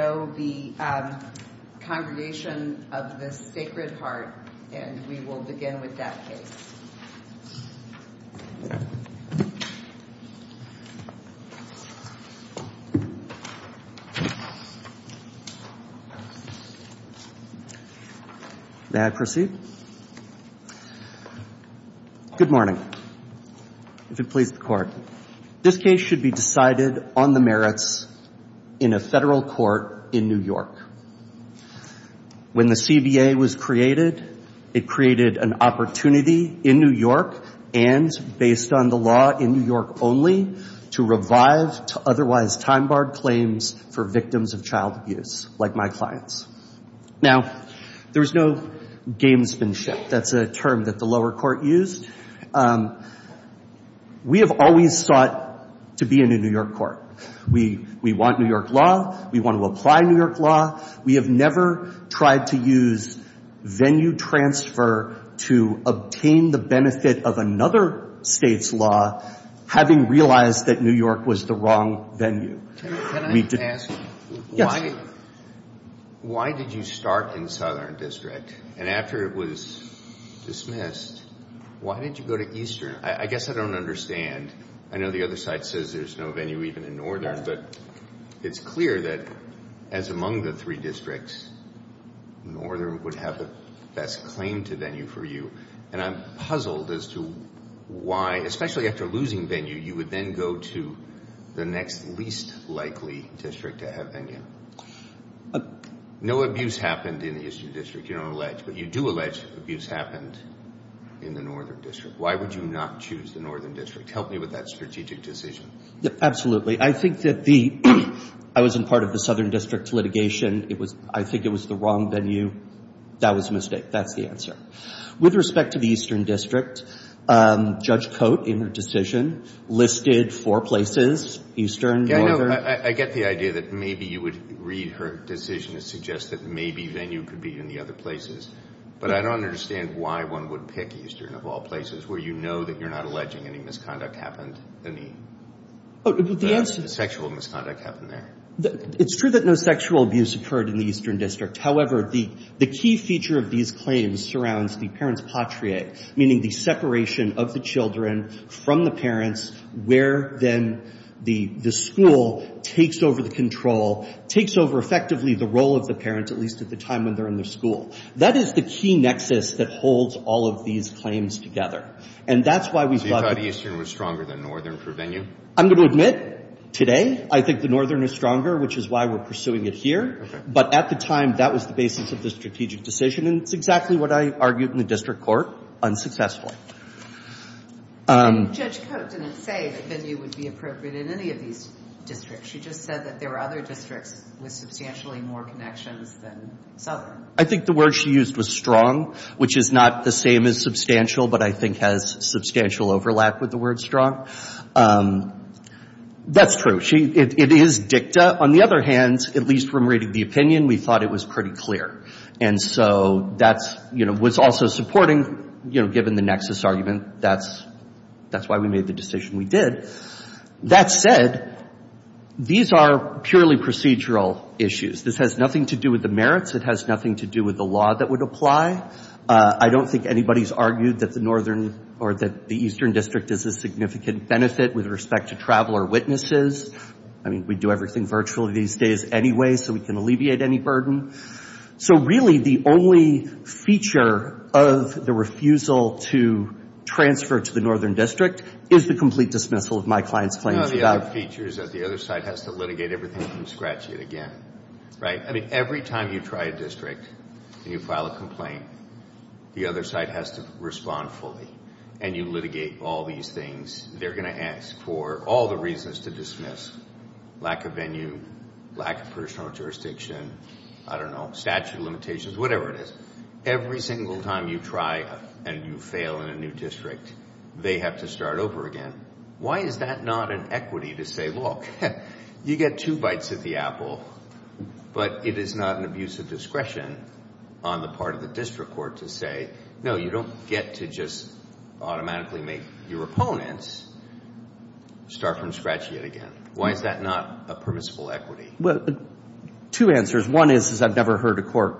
May I proceed? Good morning. If it pleases the Court, this case should be decided on the merits in a federal court in New York. When the CBA was created, it created an opportunity in New York, and based on the law in New York only, to revive to otherwise time-barred claims for victims of child abuse, like my clients. Now, there's no gamesmanship. That's a term that the lower court used. We have always sought to be in a New York court. We want New York law. We want to apply New York law. We have never tried to use venue transfer to obtain the benefit of another state's law, having realized that New York was the wrong venue. Can I ask, why did you start in Southern District, and after it was dismissed, why did you go to Eastern? I guess I don't understand. I know the other side says there's no venue even in Northern, but it's clear that as among the three districts, Northern would have the best claim to venue for you, and I'm puzzled as to why, especially after losing venue, you would then go to the next least likely district to have venue. No abuse happened in the Eastern District, you don't allege, but you do allege abuse happened in the Northern District. Why would you not choose the Northern District? Help me with that strategic decision. Absolutely. I think that the, I was in part of the Southern District litigation. It was, I think it was the wrong venue. That was a mistake. That's the answer. With respect to the Eastern District, Judge Coate, in her decision, listed four places, Eastern, Northern. I get the idea that maybe you would read her decision to suggest that maybe venue could be in the other places, but I don't understand why one would pick Eastern of all places, where you know that you're not alleging any misconduct happened, any sexual misconduct happened there. It's true that no sexual abuse occurred in the Eastern District. However, the key feature of these claims surrounds the parents' patriae, meaning the separation of the children from the parents, where then the school takes over the control, takes over effectively the role of the parents, at least at the time when they're in the school. That is the key nexus that holds all of these claims together. And that's why we've got So you thought Eastern was stronger than Northern for venue? I'm going to admit, today, I think the Northern is stronger, which is why we're pursuing it here. But at the time, that was the basis of the strategic decision, and it's exactly what I argued in the district court, unsuccessfully. Judge Coate didn't say that venue would be appropriate in any of these districts. She just said that there were other districts with substantially more connections than Southern. I think the word she used was strong, which is not the same as substantial, but I think has substantial overlap with the word strong. That's true. It is dicta. On the other hand, at least from reading the opinion, we thought it was pretty clear. And so that's what's also supporting, given the nexus argument, that's why we made the decision we did. That said, these are purely procedural issues. This has nothing to do with the merits. It has nothing to do with the law that would apply. I don't think anybody's argued that the Eastern District is a significant benefit with respect to traveler witnesses. I mean, we do everything virtually these days anyway, so we can alleviate any burden. So really, the only feature of the refusal to transfer to the Northern District is the complete dismissal of my client's claims. No, the other feature is that the other side has to litigate everything from scratch yet again, right? I mean, every time you try a district and you file a complaint, the other side has to respond fully, and you litigate all these things. They're going to ask for all the reasons to dismiss. Lack of venue, lack of personal jurisdiction, I don't know, statute of limitations, whatever it is. Every single time you try and you fail in a new district, they have to start over again. Why is that not an equity to say, look, you get two bites at the apple, but it is not an abuse of discretion on the part of the district court to say, no, you don't get to just automatically make your opponents start from scratch yet again. Why is that not a permissible equity? Two answers. One is I've never heard a court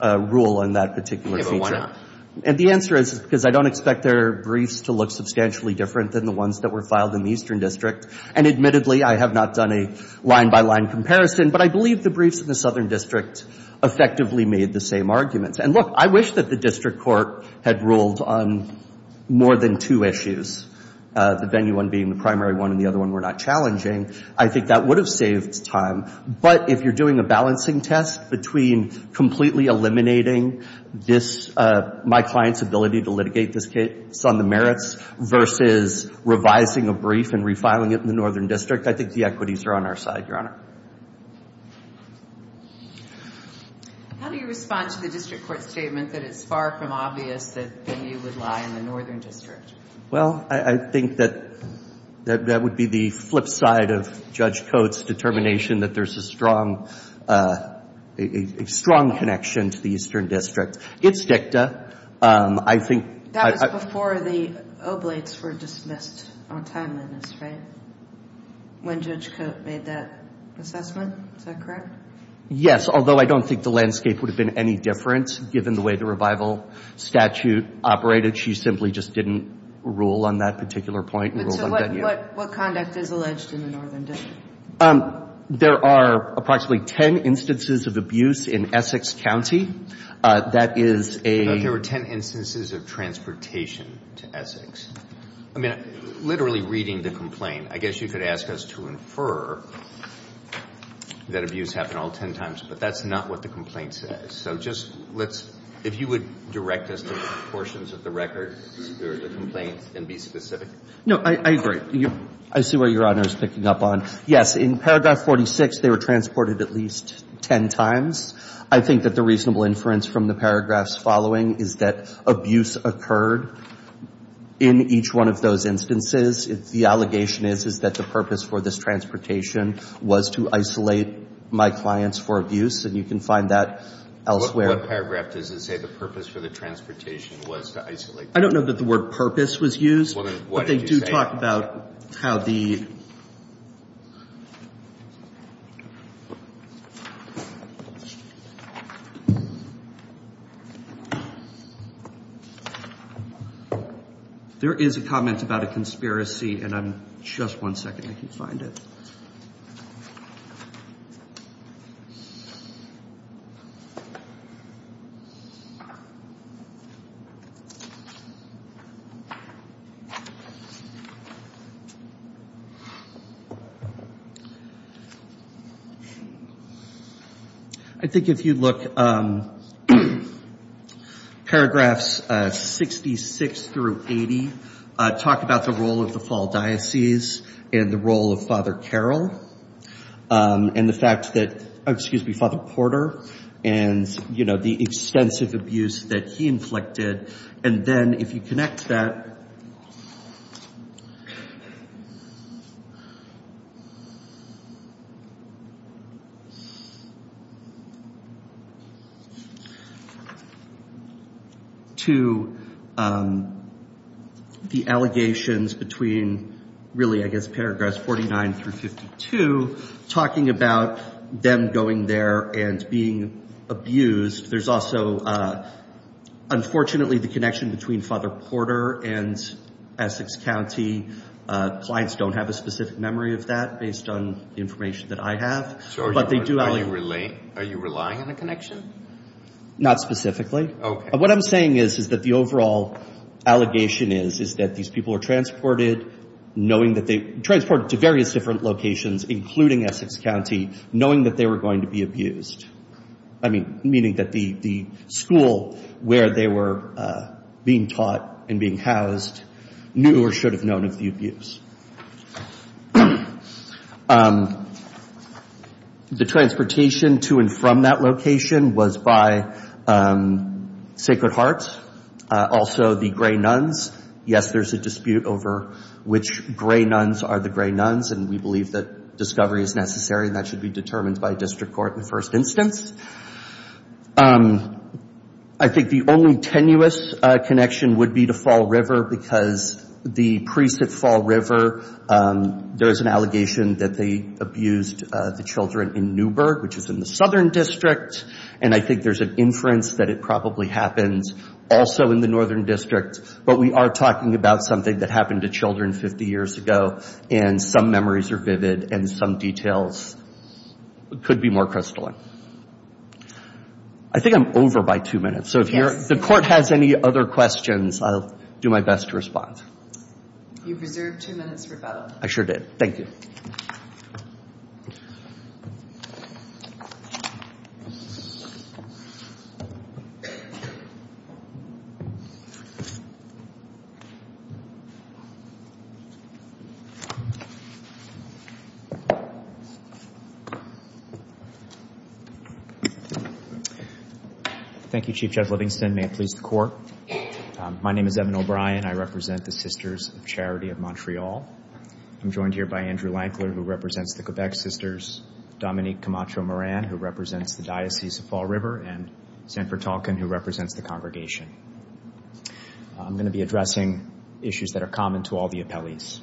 rule on that particular feature. Yeah, but why not? And the answer is because I don't expect their briefs to look substantially different than the ones that were filed in the Eastern District. And admittedly, I have not done a line-by-line comparison, but I believe the briefs in the Southern District effectively made the same arguments. And look, I wish that the district court had ruled on more than two issues, the venue one being the primary one and the other one were not challenging. I think that would have saved time. But if you're doing a balancing test between completely eliminating this, my client's ability to litigate this case on the merits versus revising a brief and refiling it in the Northern District, I think the equities are on our side, Your Honor. How do you respond to the district court statement that it's far from obvious that the venue would lie in the Northern District? Well, I think that that would be the flip side of Judge Coates' determination that there's a strong connection to the Eastern District. It's dicta. I think... That was before the oblates were dismissed on timeliness, right? When Judge Coates made that assessment? Is that correct? Yes, although I don't think the landscape would have been any different given the way the revival statute operated. She simply just didn't rule on that particular point and ruled on venue. So what conduct is alleged in the Northern District? There are approximately 10 instances of abuse in Essex County. That is a... But there were 10 instances of transportation to Essex. I mean, literally reading the complaint, I guess you could ask us to infer that abuse happened all 10 times, but that's not what the complaint says. So just let's... If you would direct us to portions of the record or the complaint and be specific. No, I agree. I see what Your Honor is picking up on. Yes, in paragraph 46, they were transported at least 10 times. I think that the reasonable inference from the paragraphs following is that abuse occurred in each one of those instances. The allegation is, is that the purpose for this transportation was to isolate my clients for abuse, and you can find that elsewhere. What paragraph does it say the purpose for the transportation was to isolate them? I don't know that the word purpose was used, but they do talk about how the... There is a comment about a conspiracy, and I'm... Just one second, I can find it. I think if you look, paragraphs 66 through 80, talk about the role of the Fall Diocese and the role of Father Carroll, and the fact that... Excuse me, Father Porter, and, you know, to the allegations between really, I guess, paragraphs 49 through 52, talking about them going there and being abused. There's also, unfortunately, the connection between Father Porter and Essex County. Clients don't have a specific memory of that based on information that I have, but they do... Are you relying on a connection? Not specifically. Okay. What I'm saying is, is that the overall allegation is, is that these people were transported knowing that they... Transported to various different locations, including Essex County, knowing that they were going to be abused. I mean, meaning that the school where they were being taught and being housed knew or should have known of the abuse. The transportation to and from that location was by Sacred Hearts, also the Grey Nuns. Yes, there's a dispute over which Grey Nuns are the Grey Nuns, and we believe that discovery is necessary, and that should be determined by district court in the first instance. I think the only tenuous connection would be to Fall River, because the priests at Fall River, there is an allegation that they abused the children in Newburgh, which is in the Southern District, and I think there's an inference that it probably happens also in the Northern District, but we are talking about something that happened to children 50 years ago, and some memories are vivid, and some details could be more crystalline. I think I'm over by two minutes, so if the court has any other questions, I'll do my best to respond. You've reserved two minutes for vote. I sure did. Thank you. Thank you, Chief Judge Livingston. May it please the court. My name is Evan O'Brien. I represent the Sisters of Charity of Montreal. I'm joined here by Andrew Lankler, who represents the Quebec Sisters, Dominique Camacho-Moran, who represents the Diocese of Fall River, and Sanford Talkin, who represents the Congregation. I'm going to be addressing issues that are common to all the appellees.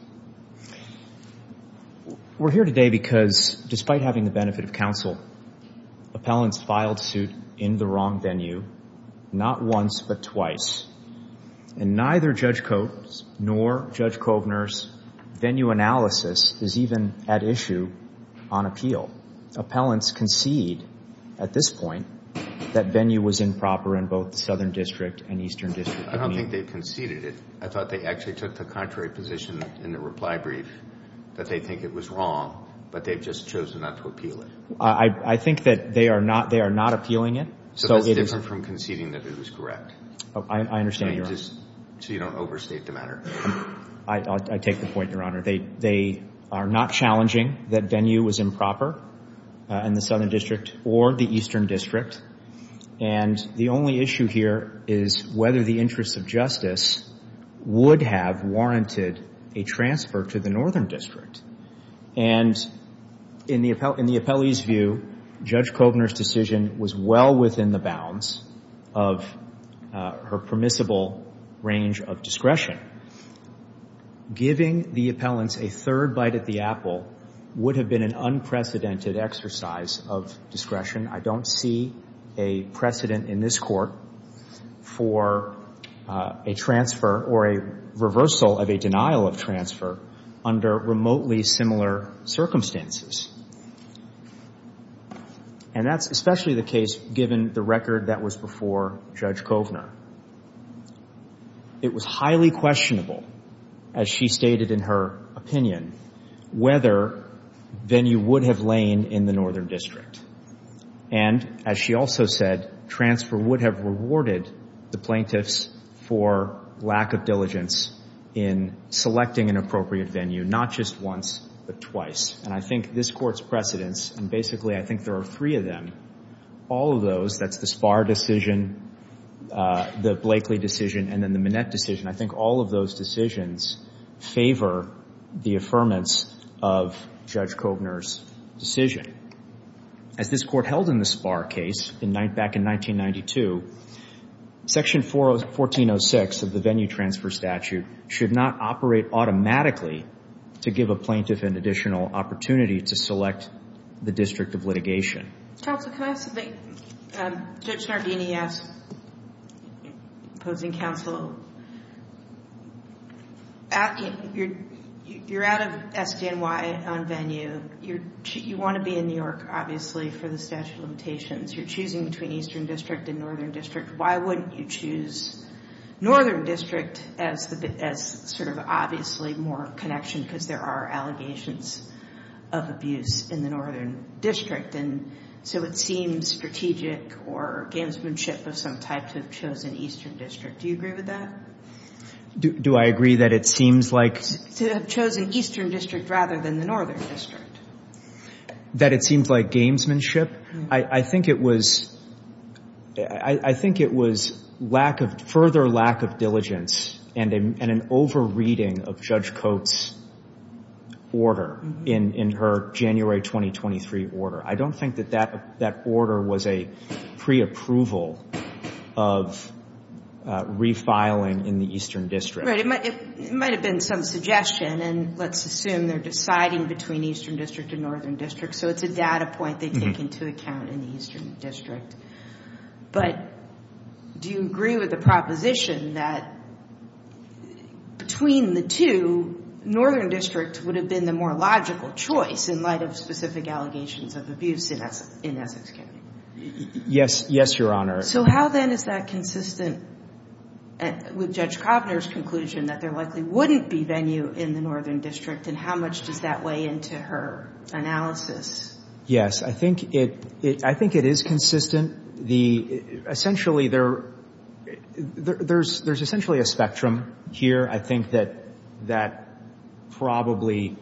We're here today because, despite having the benefit of counsel, appellants filed suit in the wrong venue, not once but twice, and neither Judge Coates nor Judge Kovner's venue analysis is even at issue on appeal. Appellants concede, at this point, that venue was improper in both the Southern District and Eastern District. I don't think they conceded it. I thought they actually took the contrary position in the reply brief, that they think it was wrong, but they've just chosen not to appeal it. I think that they are not appealing it. So that's different from conceding that it was correct? I understand, Your Honor. So you don't overstate the matter? I take the point, Your Honor. They are not challenging that venue was improper in the Southern District or the Eastern District. And the only issue here is whether the interests of justice would have warranted a transfer to the Northern District. And in the appellee's view, Judge Kovner's decision was well within the bounds of her permissible range of discretion. Giving the appellants a third bite at the apple would have been an unprecedented exercise of discretion. I don't see a precedent in this Court for a transfer or a reversal of a denial of transfer under remotely similar circumstances. And that's especially the case given the record that was before Judge Kovner. It was highly questionable, as she stated in her opinion, whether venue would have lain in the Northern District. And as she also said, transfer would have rewarded the plaintiffs for lack of diligence in selecting an appropriate venue, not just once, but twice. And I think this Court's precedents, and basically I think there are three of them, all of those, that's the Spahr decision, the Blakely decision, and then the Minnette decision, I think all of those decisions favor the affirmance of Judge Kovner's decision. As this Court held in the Spahr case back in 1992, Section 1406 of the venue transfer statute should not operate automatically to give a plaintiff an additional opportunity to select the district of litigation. Counsel, can I ask something? Judge Sardini asked, opposing counsel, you're out of SDNY on venue. You want to be in New York, obviously, for the statute of limitations. You're choosing between Eastern District and Northern District. Why wouldn't you choose Northern District as sort of obviously more connection, because there are allegations of abuse in the Northern District? And so it seems strategic or gamesmanship of some type to have chosen Eastern District. Do you agree with that? Do I agree that it seems like... To have chosen Eastern District rather than the Northern District? That it seems like gamesmanship? I think it was further lack of diligence and an over-reading of Judge Coates' order in her January 2023 order. I don't think that that order was a pre-approval of refiling in the Eastern District. It might have been some suggestion, and let's assume they're deciding between Eastern District and Northern District, so it's a data point they take into account in the Eastern District. But do you agree with the proposition that between the two, Northern District would have been the more logical choice in light of specific allegations of abuse in Essex County? Yes, Your Honor. So how then is that consistent with Judge Kovner's conclusion that there likely wouldn't be venue in the Northern District, and how much does that weigh into her analysis? Yes, I think it is consistent. Essentially, there's essentially a spectrum here. I think that that probably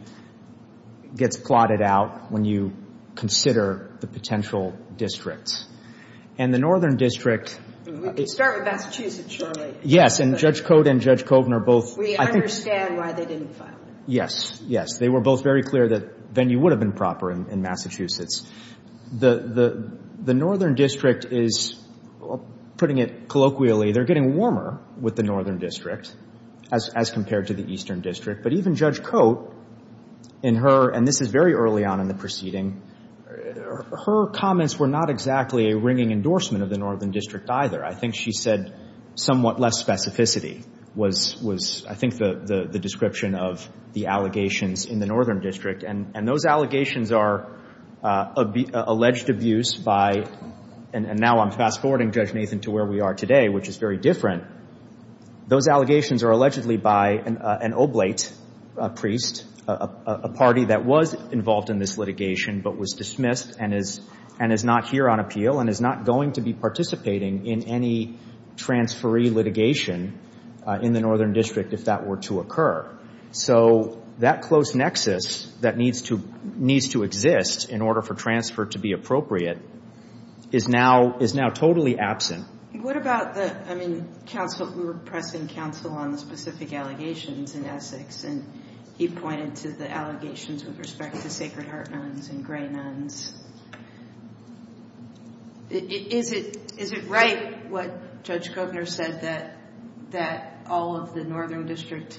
gets plotted out when you consider the potential districts. And the Northern District – We can start with Massachusetts, surely. Yes. And Judge Coates and Judge Kovner both – We understand why they didn't file it. Yes. Yes. They were both very clear that venue would have been proper in Massachusetts. The Northern District is, putting it colloquially, they're getting warmer with the Northern District as compared to the Eastern District. But even Judge Coates, in her – and this is very early on in the proceeding – her comments were not exactly a ringing endorsement of the Northern District either. I think she said somewhat less specificity was, I think, the description of the allegations in the Northern District. And those allegations are alleged abuse by – and now I'm fast-forwarding, Judge Nathan, to where we are today, which is very different. Those allegations are allegedly by an oblate priest, a party that was involved in this litigation but was dismissed and is not here on appeal and is not going to be participating in any transferee litigation in the Northern District if that were to occur. So that close nexus that needs to – needs to exist in order for transfer to be appropriate is now – is now totally absent. What about the – I mean, counsel – we were pressing counsel on the specific allegations in Essex, and he pointed to the allegations with respect to Sacred Heart nuns and gray women. Is it – is it right what Judge Govner said that – that all of the Northern District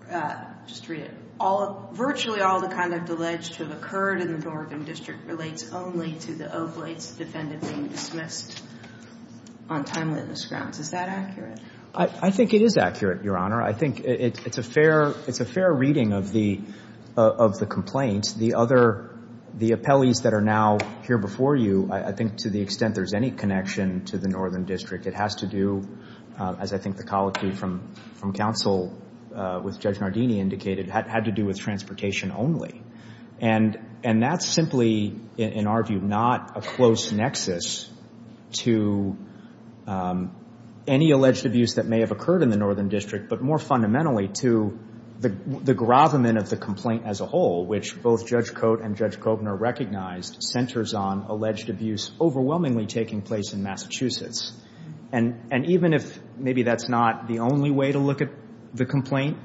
– just read it – all – virtually all the conduct alleged to have occurred in the Northern District relates only to the oblates defended being dismissed on timeliness grounds? Is that accurate? I think it is accurate, Your Honor. I think it's a fair – it's a fair reading of the – of the complaints. The other – the appellees that are now here before you, I think to the extent there's any connection to the Northern District, it has to do, as I think the colloquy from – from counsel with Judge Nardini indicated, had to do with transportation only. And – and that's simply, in our view, not a close nexus to any alleged abuse that may have occurred in the Northern District, but more fundamentally to the – the gravamen of the complaint as a whole, which both Judge Cote and Judge Govner recognized centers on alleged abuse overwhelmingly taking place in Massachusetts. And – and even if maybe that's not the only way to look at the complaint,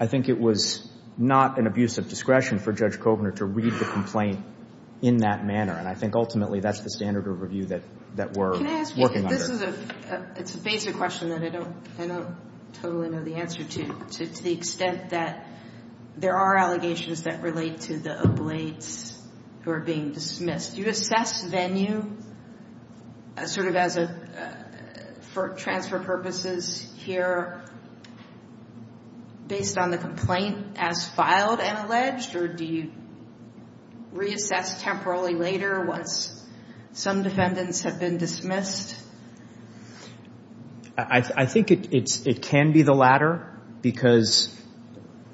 I think it was not an abuse of discretion for Judge Govner to read the complaint in that manner. And I think ultimately that's the standard of review that – that we're working under. Can I ask you – this is a – it's a basic question that I don't – I don't totally know the answer to, to the extent that there are allegations that relate to the oblates who are being dismissed. Do you assess venue as sort of as a – for transfer purposes here based on the complaint as filed and alleged, or do you reassess temporarily later once some defendants have been dismissed? I – I think it's – it can be the latter because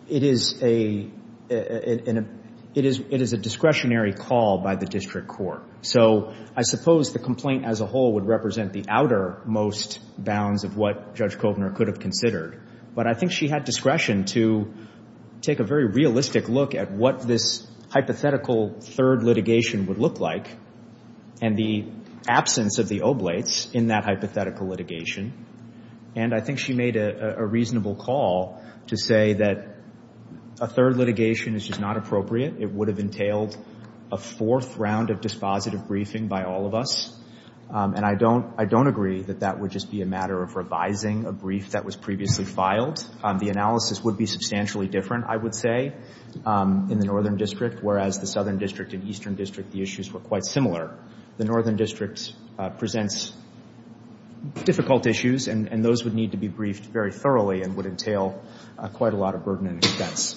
it is a – it is – it is a discretionary call by the district court. So I suppose the complaint as a whole would represent the outermost bounds of what Judge Govner could have considered. But I think she had discretion to take a very realistic look at what this hypothetical third litigation would look like and the absence of the oblates in that hypothetical litigation. And I think she made a reasonable call to say that a third litigation is just not appropriate. It would have entailed a fourth round of dispositive briefing by all of us. And I don't – I don't agree that that would just be a matter of revising a brief that was previously filed. The analysis would be substantially different, I would say, in the Northern District, whereas the Southern District and Eastern District issues were quite similar. The Northern District presents difficult issues and those would need to be briefed very thoroughly and would entail quite a lot of burden and expense.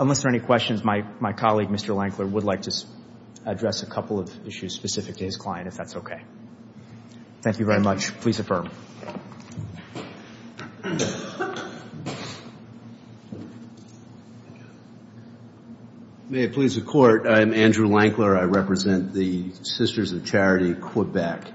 Unless there are any questions, my colleague, Mr. Lankler, would like to address a couple of issues specific to his client, if that's okay. Thank you very much. Please affirm. May it please the Court, I am Andrew Lankler. I represent the Sisters of Charity, Quebec.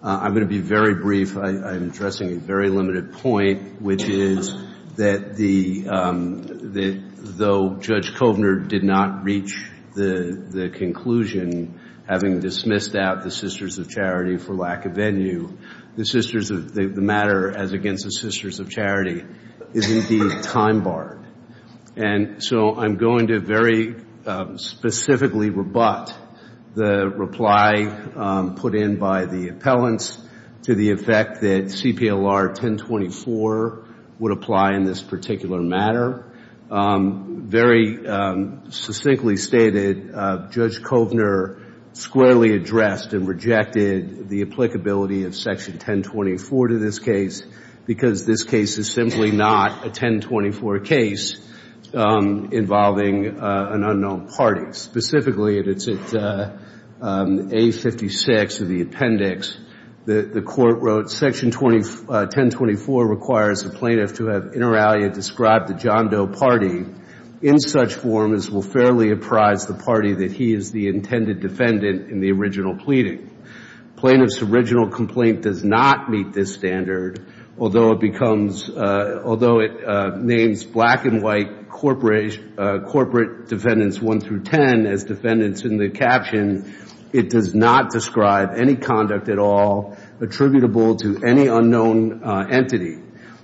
I'm going to be very brief. I'm addressing a very limited point, which is that the – that though Judge Govner did not reach the conclusion, having dismissed out the Sisters of Charity for lack of venue, the Sisters of – the matter as against the Sisters of Charity is indeed time barred. And so I'm going to very specifically rebut the reply put in by the appellants to the effect that CPLR 1024 would apply in this particular matter. Very succinctly stated, Judge Govner squarely addressed and rejected the applicability of Section 1024 to this case because this case is simply not a 1024 case involving an unknown party. Specifically, it's at A56 of the appendix that the Court wrote, Section 1024 requires the plaintiff to have inter alia described the John Doe party in such form as will fairly apprise the party that he is the intended defendant in the original pleading. Plaintiff's original complaint does not meet this standard, although it becomes – although it names black and white corporate defendants 1 through 10 as defendants in the caption, it does not describe any conduct at all attributable to any unknown entity.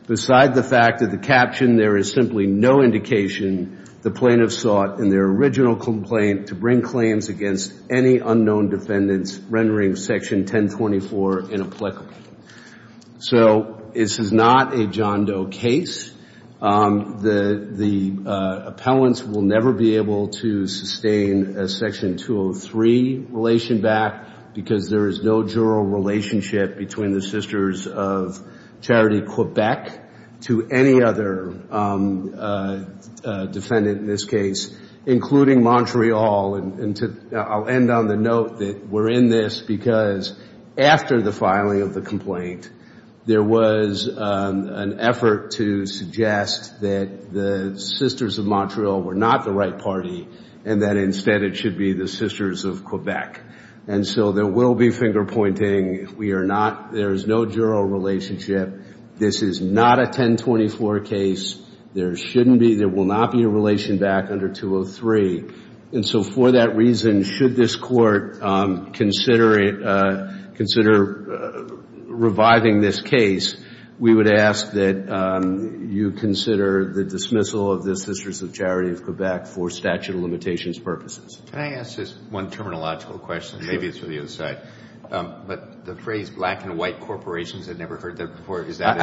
Beside the fact that the caption, there is simply no indication the plaintiff sought in their original complaint to bring claims against any unknown defendants rendering Section 1024 inapplicable. So this is not a John Doe case. The appellants will never be able to sustain a Section 203 relation back because there is no juror relationship between the Sisters of Charity Quebec to any other defendant in this case, including Montreal. I'll end on the note that we're in this because after the filing of the complaint, there was an effort to suggest that the Sisters of Montreal were not the right party and that instead it should be the Sisters of Quebec. And so there will be finger pointing. We are not – there is no juror relationship. This is not a 1024 case. There shouldn't be – there will not be a relation back under 203. And so for that reason, should this court consider it – consider reviving this case, we would ask that you consider the dismissal of the Sisters of Charity of Quebec for statute of limitations purposes. Can I ask just one terminological question? Maybe it's for the other side. But the phrase black and white corporations, I've never heard that before. Is that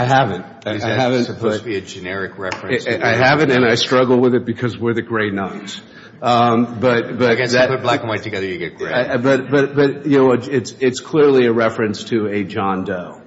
supposed to be a generic reference? I haven't and I struggle with it because we're the gray knights. I guess if you put black and white together, you get gray. But, you know, it's clearly a reference to a John Doe.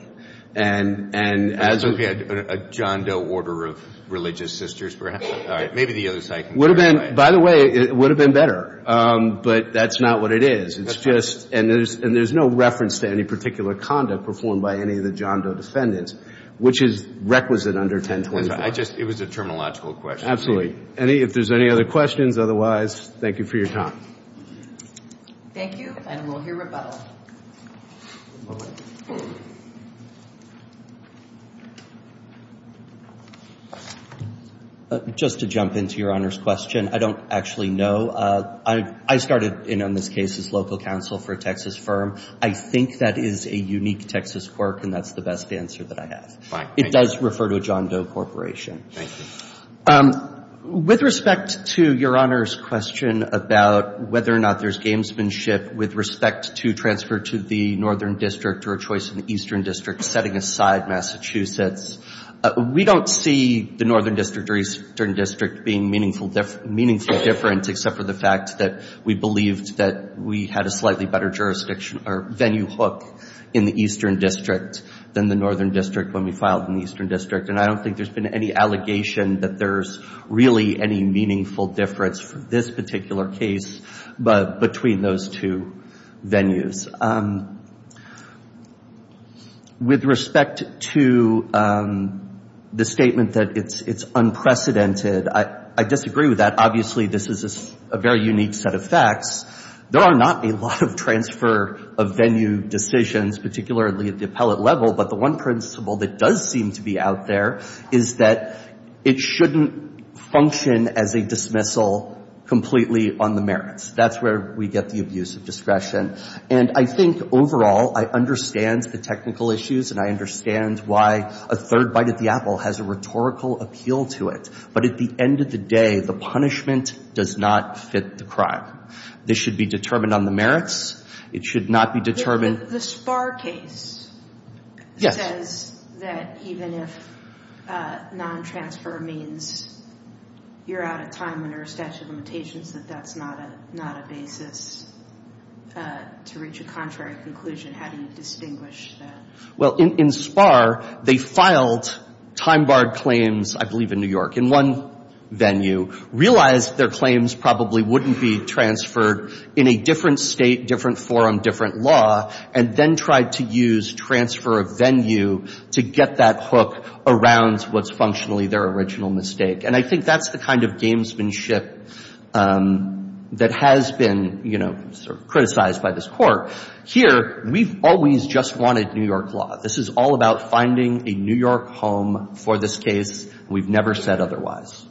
And as a – A John Doe order of religious sisters perhaps? All right. Maybe the other side can – Would have been – by the way, it would have been better. But that's not what it is. It's just – and there's no reference to any particular conduct performed by any of the John Doe defendants, which is requisite under 1024. I just – it was a terminological question. Absolutely. Any – if there's any other questions, otherwise, thank you for your time. Thank you. And we'll hear rebuttal. Just to jump into Your Honor's question, I don't actually know. I started in on this case as local counsel for a Texas firm. I think that is a unique Texas quirk and that's the best answer that I have. Fine. Thank you. It does refer to a John Doe corporation. Thank you. With respect to Your Honor's question about whether or not there's gamesmanship with respect to transfer to the Northern District or a choice in the Eastern District setting aside Massachusetts, we don't see the Northern District or Eastern District being meaningful – meaningfully different except for the fact that we believed that we had a slightly better jurisdiction or venue hook in the Eastern District than the Northern District when we filed in the Eastern District. And I don't think there's been any allegation that there's really any meaningful difference for this particular case between those two venues. With respect to the statement that it's unprecedented, I disagree with that. Obviously, this is a very unique set of facts. There are not a lot of transfer of venue decisions, particularly at the appellate level, but the one principle that does seem to be out there is that it shouldn't function as a dismissal completely on the merits. That's where we get the abuse of discretion. And I think overall I understand the technical issues and I understand why a third bite at the apple has a rhetorical appeal to it. But at the end of the day, the punishment does not fit the crime. This should be determined on the merits. It should not be determined – The Sparr case says that even if non-transfer means you're out of time under a statute of limitations, that that's not a basis to reach a contrary conclusion. How do you distinguish that? Well, in Sparr, they filed time-barred claims, I believe in New York, in one venue, realized their claims probably wouldn't be transferred in a different state, different forum, different law, and then tried to use transfer of venue to get that hook around what's functionally their original mistake. And I think that's the kind of gamesmanship that has been criticized by this Court. Here, we've always just wanted New York law. This is all about finding a New York home for this case. We've never said otherwise.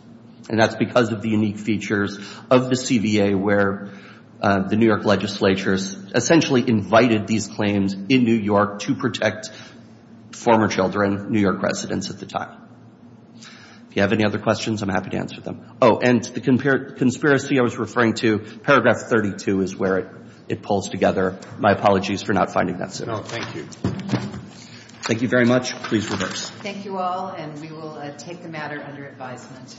And that's because of the unique features of the CBA, where the New York legislature essentially invited these claims in New York to protect former children, New York residents at the time. If you have any other questions, I'm happy to answer them. Oh, and the conspiracy I was referring to, paragraph 32 is where it pulls together. My apologies for not finding that sooner. No, thank you. Thank you very much. Please reverse. Thank you all, and we will take the matter under advisement.